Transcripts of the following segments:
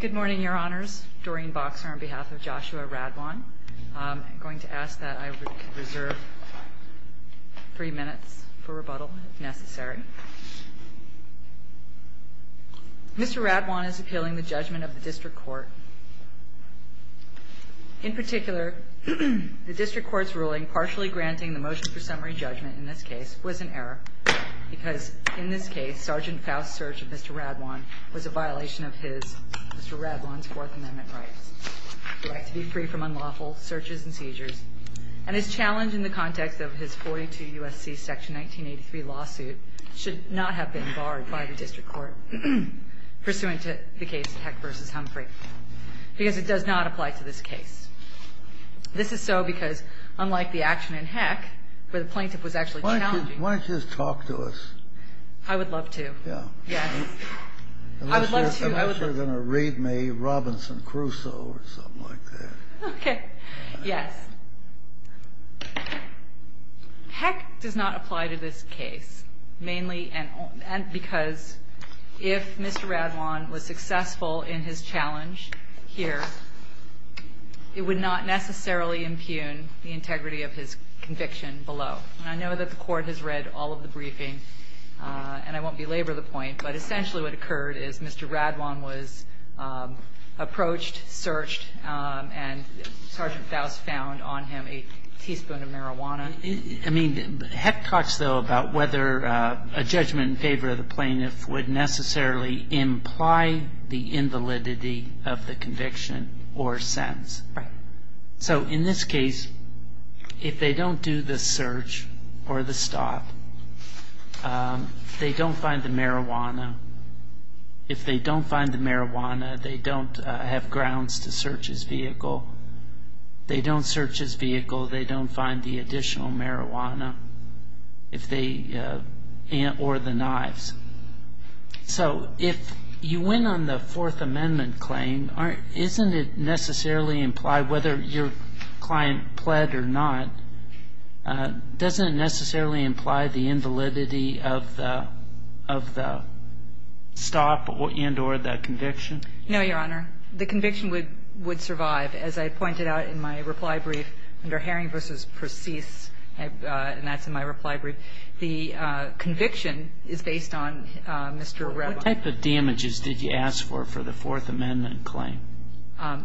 Good morning, Your Honors. Doreen Boxer on behalf of Joshua Radwan. I'm going to ask that I reserve three minutes for rebuttal if necessary. Mr. Radwan is appealing the judgment of the District Court. In particular, the District Court's ruling partially granting the motion for summary judgment in this case was an error because in this case, Sgt. Faust's search of Mr. Radwan was a violation of his, Mr. Radwan's Fourth Amendment rights. The right to be free from unlawful searches and seizures. And his challenge in the context of his 42 U.S.C. Section 1983 lawsuit should not have been barred by the District Court pursuant to the case of Heck v. Humphrey because it does not apply to this case. This is so because unlike the action in Heck where the plaintiff was actually challenging Why don't you just talk to us? I would love to. Yeah. Yes. I would love to. Unless you're going to read me Robinson Crusoe or something like that. Okay. Yes. Heck does not apply to this case mainly because if Mr. Radwan was successful in his challenge here, it would not necessarily impugn the integrity of his conviction below. And I know that the Court has read all of the briefing, and I won't belabor the point, but essentially what occurred is Mr. Radwan was approached, searched, and Sgt. Faust found on him a teaspoon of marijuana. I mean, Heck talks, though, about whether a judgment in favor of the plaintiff would necessarily imply the invalidity of the conviction or sentence. Right. So in this case, if they don't do the search or the stop, they don't find the marijuana. If they don't find the marijuana, they don't have grounds to search his vehicle. If they don't search his vehicle, they don't find the additional marijuana or the knives. So if you win on the Fourth Amendment claim, isn't it necessarily implied, whether your client pled or not, doesn't it necessarily imply the invalidity of the stop and or the conviction? No, Your Honor. The conviction would survive. As I pointed out in my reply brief under Herring v. Perseus, and that's in my reply brief, the conviction is based on Mr. Radwan. What type of damages did you ask for for the Fourth Amendment claim? I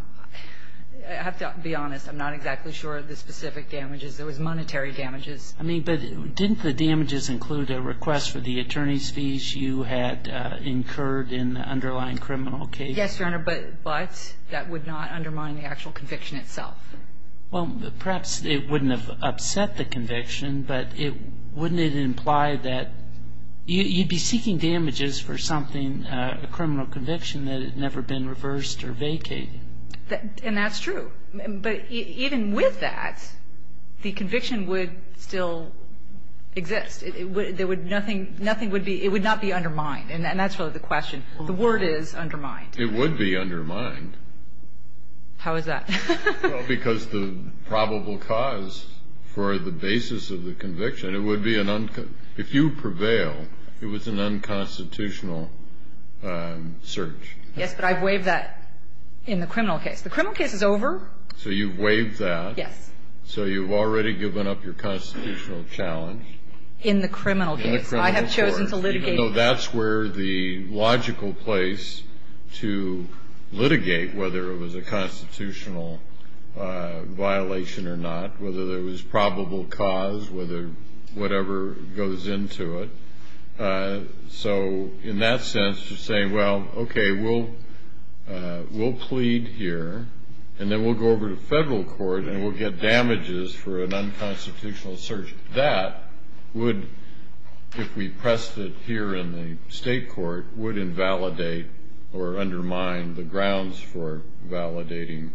have to be honest. I'm not exactly sure of the specific damages. There was monetary damages. I mean, but didn't the damages include a request for the attorney's fees you had incurred in the underlying criminal case? Yes, Your Honor, but that would not undermine the actual conviction itself. Well, perhaps it wouldn't have upset the conviction, but wouldn't it imply that you'd be seeking damages for something, a criminal conviction that had never been reversed or vacated? And that's true. But even with that, the conviction would still exist. Nothing would be ñ it would not be undermined, and that's really the question. The word is undermined. It would be undermined. How is that? Well, because the probable cause for the basis of the conviction, it would be an ñ if you prevail, it was an unconstitutional search. Yes, but I've waived that in the criminal case. The criminal case is over. So you've waived that. Yes. So you've already given up your constitutional challenge. In the criminal case. In the criminal case. I have chosen to litigate that. violation or not, whether there was probable cause, whatever goes into it. So in that sense, you're saying, well, okay, we'll plead here, and then we'll go over to federal court, and we'll get damages for an unconstitutional search. That would, if we pressed it here in the state court, would invalidate or undermine the grounds for validating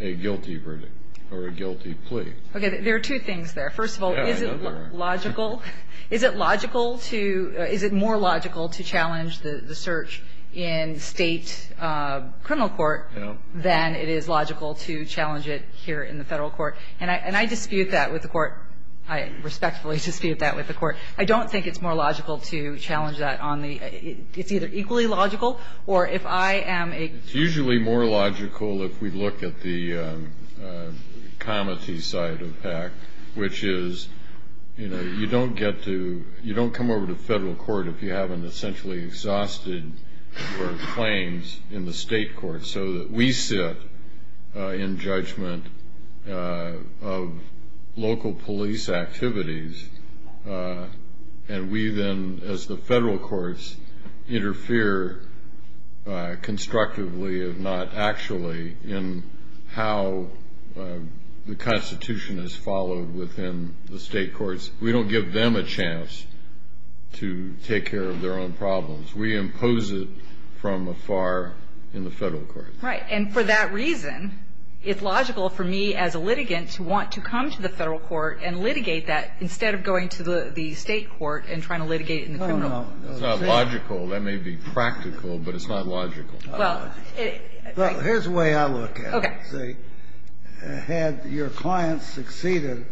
a guilty verdict or a guilty plea. Okay. There are two things there. First of all, is it logical ñ is it logical to ñ is it more logical to challenge the search in state criminal court than it is logical to challenge it here in the federal court? And I dispute that with the court. I respectfully dispute that with the court. I don't think it's more logical to challenge that on the ñ it's either equally logical or if I am a ñ It's usually more logical if we look at the comity side of that, which is, you know, you don't get to ñ you don't come over to federal court if you haven't essentially exhausted your claims in the state court, so that we sit in judgment of local police activities, and we then, as the federal courts, interfere constructively if not actually in how the Constitution is followed within the state courts. We don't give them a chance to take care of their own problems. We impose it from afar in the federal court. Right. And for that reason, it's logical for me as a litigant to want to come to the federal court and litigate that instead of going to the state court and trying to litigate it in the criminal court. No, no. It's not logical. That may be practical, but it's not logical. Well, it ñ Look, here's the way I look at it. Okay. See, had your client succeeded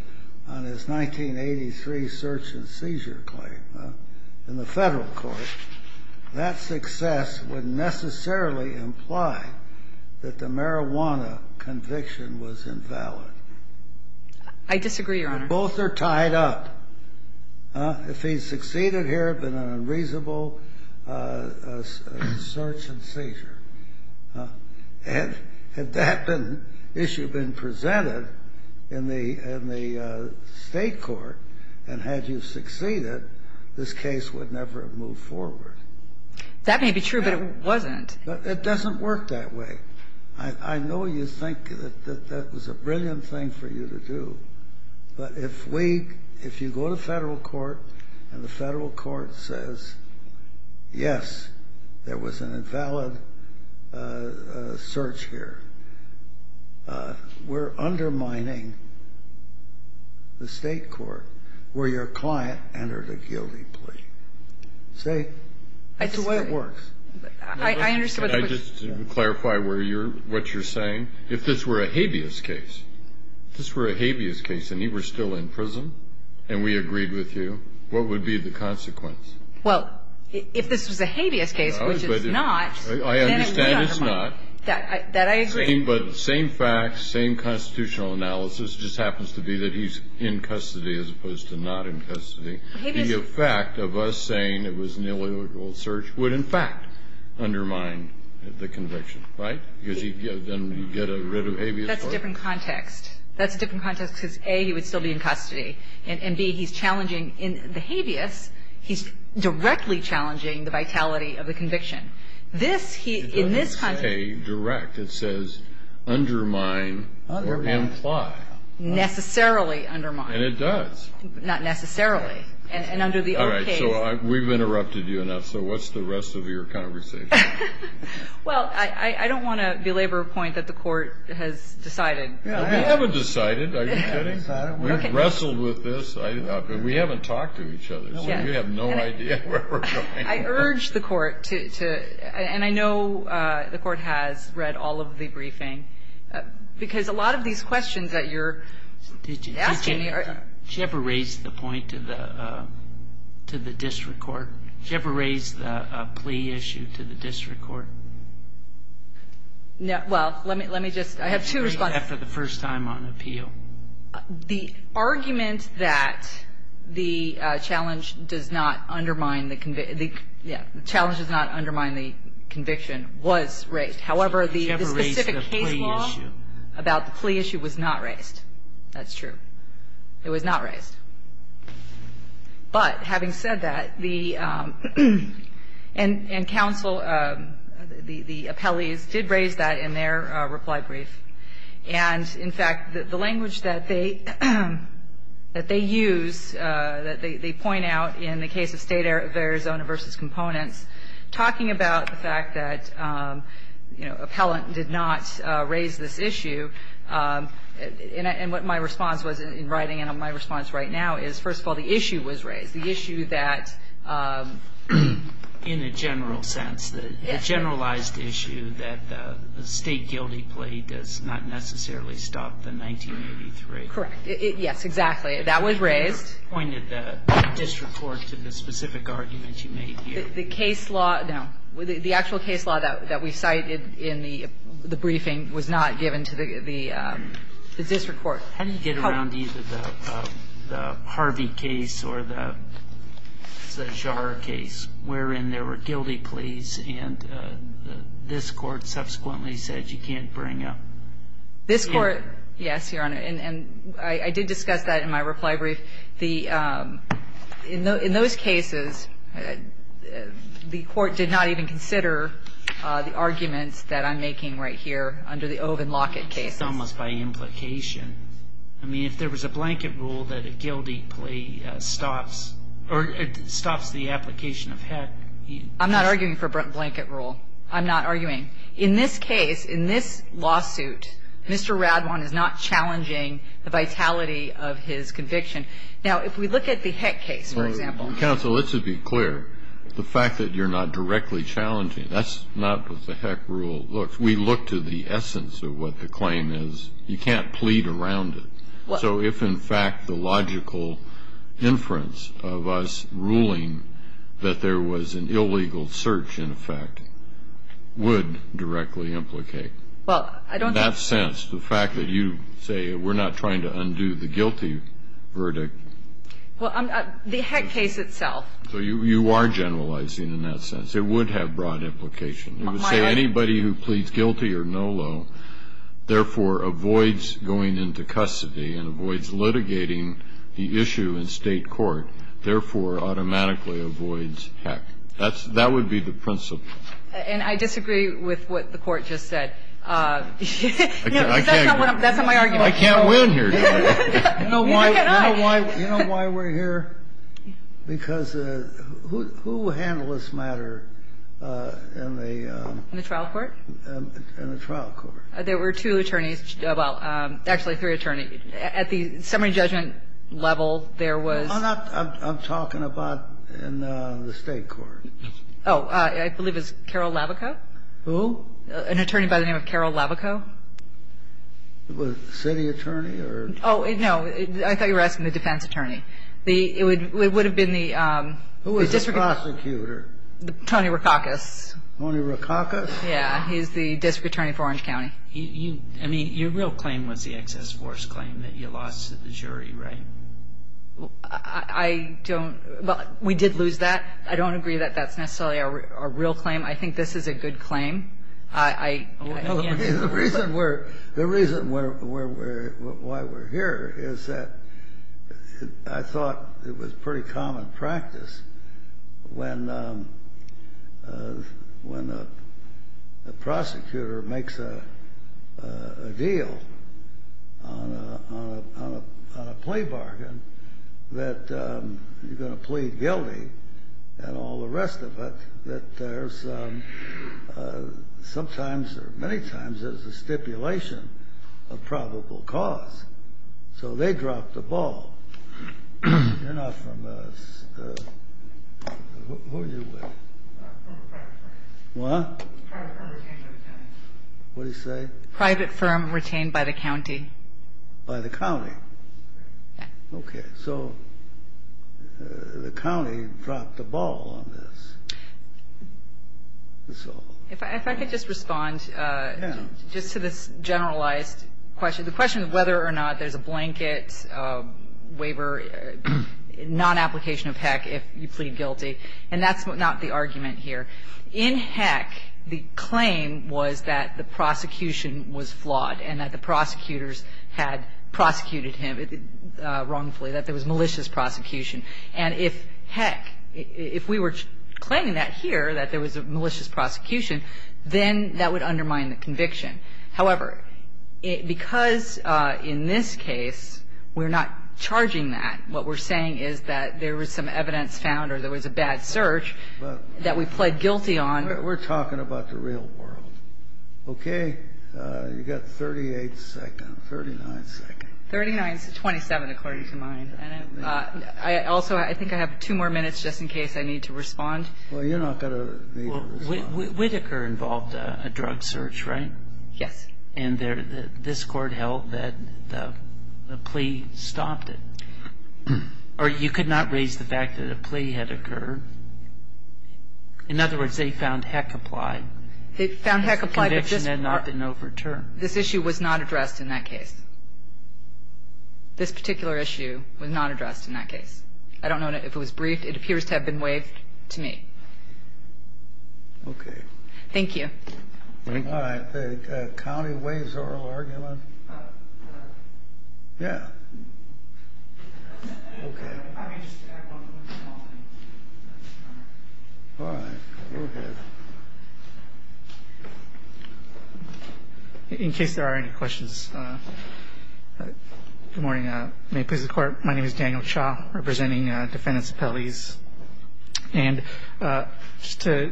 on his 1983 search and seizure claim in the federal court, that success would necessarily imply that the marijuana conviction was invalid. I disagree, Your Honor. Both are tied up. If he succeeded here, it would have been an unreasonable search and seizure. Had that issue been presented in the state court and had you succeeded, this case would never have moved forward. That may be true, but it wasn't. It doesn't work that way. I know you think that that was a brilliant thing for you to do, but if we ñ if you go to federal court and the federal court says, yes, there was an invalid search here, we're undermining the state court where your client entered a guilty plea. See? I understand what you're saying. Can I just clarify where you're ñ what you're saying? If this were a habeas case, if this were a habeas case and he were still in prison and we agreed with you, what would be the consequence? Well, if this was a habeas case, which it's not ñ I understand it's not. That I agree. But same facts, same constitutional analysis, it just happens to be that he's in custody as opposed to not in custody. The effect of us saying it was an illegal search would, in fact, undermine the conviction. Right? Because then he'd get rid of habeas first. That's a different context. That's a different context because, A, he would still be in custody, and, B, he's challenging ñ in the habeas, he's directly challenging the vitality of the conviction. This, he ñ in this context ñ It doesn't say direct. It says undermine or imply. Undermine. Necessarily undermine. And it does. Not necessarily. And under the old case ñ All right. So we've interrupted you enough. So what's the rest of your conversation? Well, I don't want to belabor a point that the Court has decided. Well, we haven't decided. Are you kidding? We've wrestled with this. We haven't talked to each other. So we have no idea where we're going. I urge the Court to ñ and I know the Court has read all of the briefing, because a lot of these questions that you're asking are ñ Did you ever raise the point to the district court? Did you ever raise the plea issue to the district court? Well, let me just ñ I have two responses. After the first time on appeal. The argument that the challenge does not undermine the ñ yeah, the challenge does not undermine the conviction was raised. However, the specific case law about the plea issue was not raised. That's true. It was not raised. But having said that, the ñ and counsel, the appellees did raise that in their reply brief. And, in fact, the language that they use, that they point out in the case of State of Arizona v. Components, talking about the fact that, you know, appellant did not raise this issue, and what my response was in writing and my response right now is, first of all, the issue was raised. The issue that ñ In a general sense. Yes. The generalized issue that the state guilty plea does not necessarily stop the 1983. Correct. Yes, exactly. That was raised. You pointed the district court to the specific argument you made here. The case law ñ no. The actual case law that we cited in the briefing was not given to the district court. How do you get around either the Harvey case or the Zajar case, wherein there were guilty pleas and this Court subsequently said you can't bring aÖ This Court ñ yes, Your Honor. And I did discuss that in my reply brief. In those cases, the Court did not even consider the arguments that I'm making right here under the Ove and Lockett cases. It's almost by implication. I mean, if there was a blanket rule that a guilty plea stops ñ or stops the application of HECÖ I'm not arguing for a blanket rule. I'm not arguing. In this case, in this lawsuit, Mr. Radwan is not challenging the vitality of his conviction. Now, if we look at the HEC case, for exampleÖ Counsel, let's just be clear. The fact that you're not directly challenging, that's not what the HEC rule looks. We look to the essence of what the claim is. You can't plead around it. So if, in fact, the logical inference of us ruling that there was an illegal search, in effect, would directly implicateÖ Well, I don't thinkÖ Well, the HEC case itself. So you are generalizing in that sense. It would have broad implication. It would say anybody who pleads guilty or no law, therefore, avoids going into custody and avoids litigating the issue in State court, therefore, automatically avoids HEC. That would be the principle. And I disagree with what the Court just said. I can't win. That's not my argument. I can't win here. You know why we're here? Because who handled this matter in theÖ In the trial court? In the trial court. There were two attorneys. Well, actually, three attorneys. At the summary judgment level, there wasÖ I'm talking about in the State court. Oh, I believe it was Carol Lavaco. Who? An attorney by the name of Carol Lavaco. Was it the city attorney orÖ? Oh, no. I thought you were asking the defense attorney. It would have been theÖ Who was the prosecutor? Tony Rakakis. Tony Rakakis? Yeah. He's the district attorney for Orange County. I mean, your real claim was the excess force claim that you lost the jury, right? I don'tÖ Well, we did lose that. I don't agree that that's necessarily our real claim. I think this is a good claim. The reason why we're here is that I thought it was pretty common practice when a prosecutor makes a deal on a plea bargain that you're going to plead guilty and all the rest of it that there's sometimes or many times there's a stipulation of probable cause. So they drop the ball. You're not from aÖ Who are you with? Private firm. What? Private firm retained by the county. What did he say? Private firm retained by the county. By the county. Yeah. Okay. So the county dropped the ball on this. SoÖ If I could just respondÖ Yeah. Just to this generalized question. The question of whether or not there's a blanket waiver, non-application of HECC if you plead guilty. And that's not the argument here. In HECC, the claim was that the prosecution was flawed and that the prosecutors had prosecuted him wrongfully, that there was malicious prosecution. And if, heck, if we were claiming that here, that there was a malicious prosecution, then that would undermine the conviction. However, because in this case we're not charging that, what we're saying is that there was some evidence found or there was a bad search that we pled guilty on. We're talking about the real world. Okay? Okay. You've got 38 seconds, 39 seconds. 39 is 27, according to mine. And I also, I think I have two more minutes just in case I need to respond. Well, you're not going to need to respond. Well, Whitaker involved a drug search, right? Yes. And this Court held that the plea stopped it. Or you could not raise the fact that a plea had occurred. In other words, they found HECC applied. They found HECC applied. But this conviction had not been overturned. This issue was not addressed in that case. This particular issue was not addressed in that case. I don't know if it was briefed. It appears to have been waived to me. Okay. Thank you. Thank you. All right. The county waives oral argument. Yeah. Okay. All right. Go ahead. In case there are any questions. Good morning. May it please the Court. My name is Daniel Cha representing Defendant's Appellees. And just to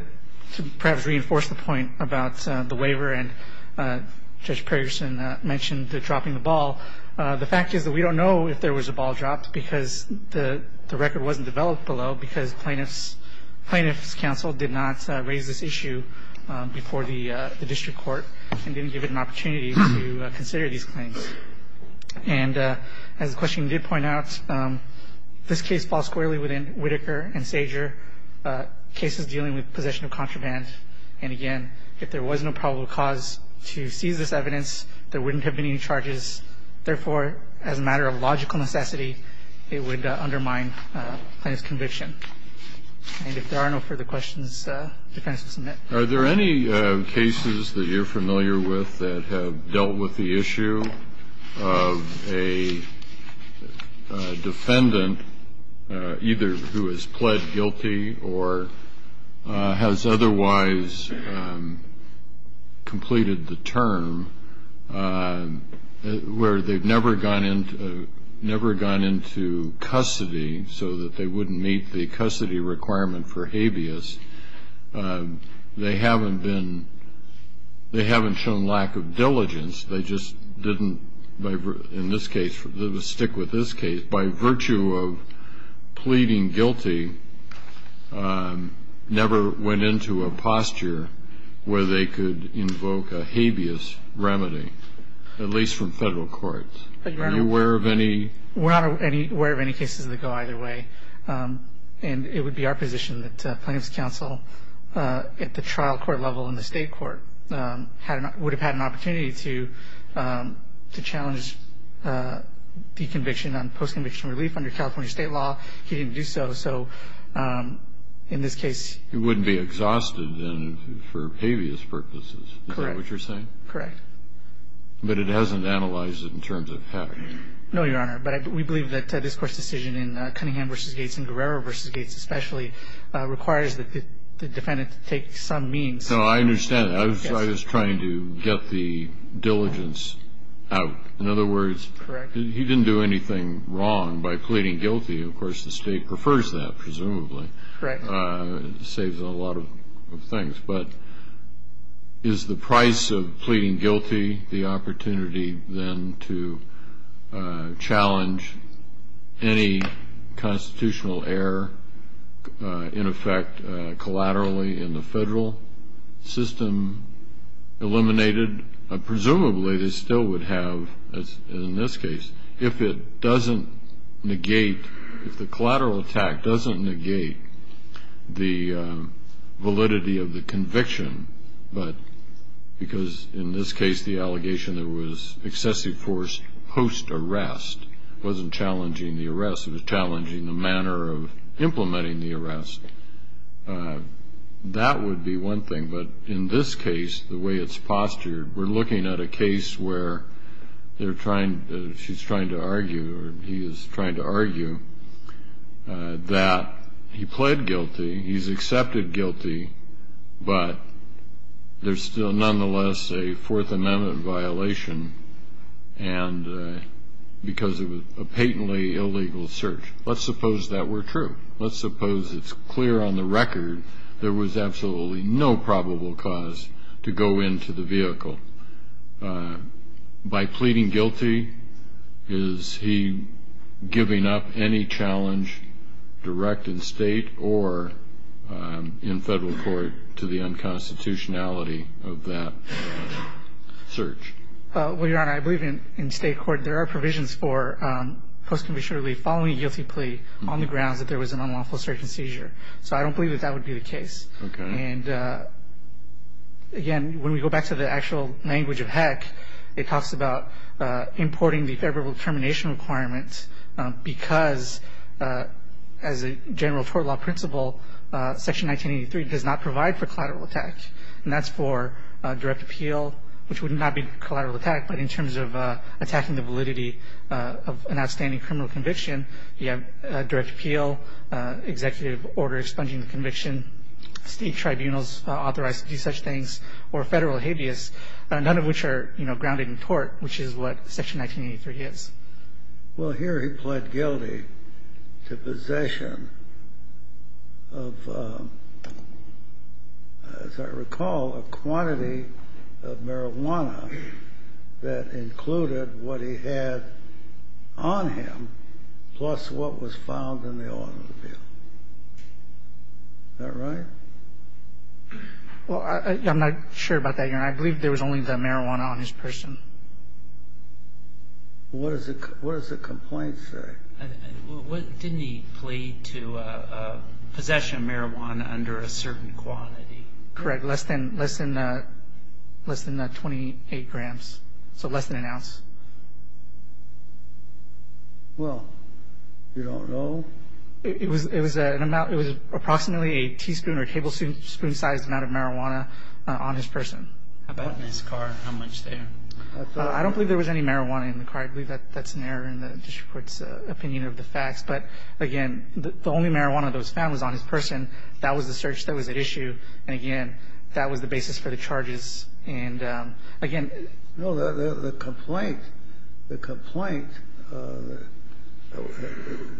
perhaps reinforce the point about the waiver, and Judge Pergerson mentioned the dropping the ball. The fact is that we don't know if there was a ball dropped, because the record wasn't developed below, because Plaintiff's Counsel did not raise this issue before the district court and didn't give it an opportunity to consider these claims. And as the question did point out, this case falls squarely within Whitaker and Sager, cases dealing with possession of contraband. And, again, if there was no probable cause to seize this evidence, there wouldn't have been any charges. Therefore, as a matter of logical necessity, it would undermine plaintiff's conviction. And if there are no further questions, defense will submit. Are there any cases that you're familiar with that have dealt with the issue of a defendant, either who has pled guilty or has otherwise completed the term, where they've never gone into custody so that they wouldn't meet the custody requirement for habeas? They haven't shown lack of diligence. They just didn't, in this case, stick with this case. They, by virtue of pleading guilty, never went into a posture where they could invoke a habeas remedy, at least from federal courts. Are you aware of any? We're not aware of any cases that go either way. And it would be our position that Plaintiff's Counsel, at the trial court level and the state court, would have had an opportunity to challenge the conviction on post-conviction relief under California state law. He didn't do so. So in this case he wouldn't be exhausted for habeas purposes. Correct. Is that what you're saying? Correct. But it hasn't analyzed it in terms of having. No, Your Honor. But we believe that this court's decision in Cunningham v. Gates and Guerrero v. Gates, especially, requires the defendant to take some means. So I understand that. I was trying to get the diligence out. In other words, he didn't do anything wrong by pleading guilty. Of course, the state prefers that, presumably. Correct. It saves a lot of things. But is the price of pleading guilty the opportunity, then, to challenge any constitutional error, in effect, collaterally in the federal system eliminated? Presumably they still would have, in this case, if it doesn't negate, if the collateral attack doesn't negate the validity of the conviction, but because, in this case, the allegation that it was excessively forced post-arrest wasn't challenging the arrest. It was challenging the manner of implementing the arrest. That would be one thing. But in this case, the way it's postured, we're looking at a case where she's trying to argue or he is trying to argue that he pled guilty, he's accepted guilty, but there's still, nonetheless, a Fourth Amendment violation because of a patently illegal search. Let's suppose that were true. Let's suppose it's clear on the record there was absolutely no probable cause to go into the vehicle. By pleading guilty, is he giving up any challenge direct in state or in federal court to the unconstitutionality of that search? Well, Your Honor, I believe in state court there are provisions for post-conviction relief following a guilty plea on the grounds that there was an unlawful search and seizure. So I don't believe that that would be the case. Okay. And, again, when we go back to the actual language of Heck, it talks about importing the favorable termination requirements because as a general tort law principle, Section 1983 does not provide for collateral attack. And that's for direct appeal, which would not be collateral attack, but in terms of attacking the validity of an outstanding criminal conviction, you have direct appeal, executive order expunging the conviction, state tribunals authorized to do such things, or federal habeas, none of which are grounded in tort, which is what Section 1983 is. Well, here he pled guilty to possession of, as I recall, a quantity of marijuana that included what he had on him plus what was found in the automobile. Is that right? Well, I'm not sure about that, Your Honor. I believe there was only the marijuana on his person. What does the complaint say? Didn't he plead to possession of marijuana under a certain quantity? Correct. Less than 28 grams, so less than an ounce. Well, you don't know? It was approximately a teaspoon or tablespoon-sized amount of marijuana on his person. How about in his car? How much there? I don't believe there was any marijuana in the car. I believe that's an error in the district court's opinion of the facts. But, again, the only marijuana that was found was on his person. That was the search that was at issue. And, again, that was the basis for the charges. No, the complaint, the complaint,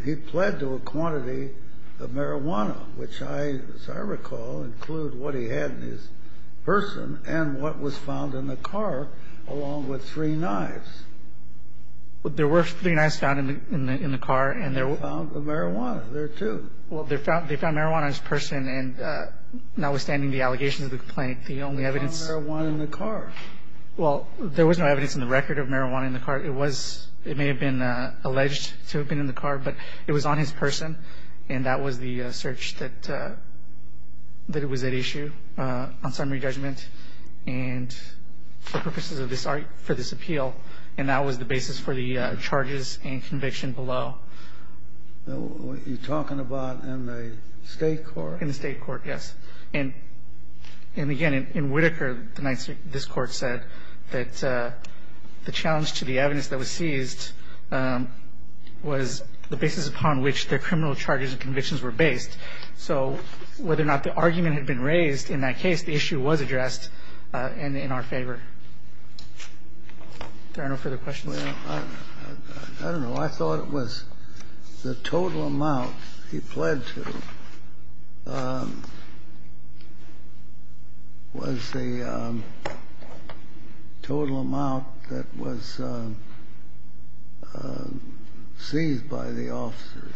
he pled to a quantity of marijuana, which I, as I recall, include what he had in his person and what was found in the car, along with three knives. There were three knives found in the car. And they found the marijuana there, too. Well, they found marijuana on his person, and notwithstanding the allegations of the complaint, the only evidence. There was no evidence of marijuana in the car. Well, there was no evidence in the record of marijuana in the car. It was, it may have been alleged to have been in the car, but it was on his person, and that was the search that it was at issue on summary judgment and for purposes of this, for this appeal, and that was the basis for the charges and conviction below. You're talking about in the state court? In the state court, yes. And, again, in Whittaker, this Court said that the challenge to the evidence that was seized was the basis upon which the criminal charges and convictions were based. So whether or not the argument had been raised in that case, the issue was addressed and in our favor. Are there no further questions? Well, I don't know. I thought it was the total amount he pled to was the total amount that was seized by the officers.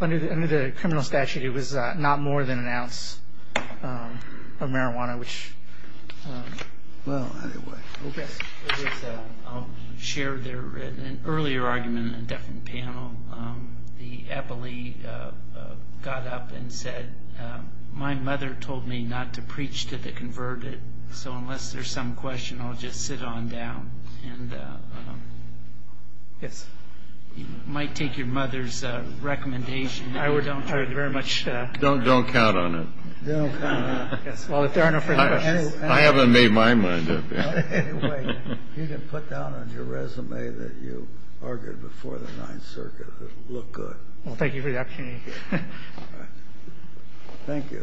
Under the criminal statute, it was not more than an ounce of marijuana, which, well, anyway. Okay. I'll share an earlier argument in a different panel. The Eppley got up and said, my mother told me not to preach to the converted, so unless there's some question, I'll just sit on down. And you might take your mother's recommendation. I would very much. Don't count on it. Well, if there are no further questions. I haven't made my mind up yet. You can put down on your resume that you argued before the Ninth Circuit. It'll look good. Well, thank you for the opportunity. Thank you.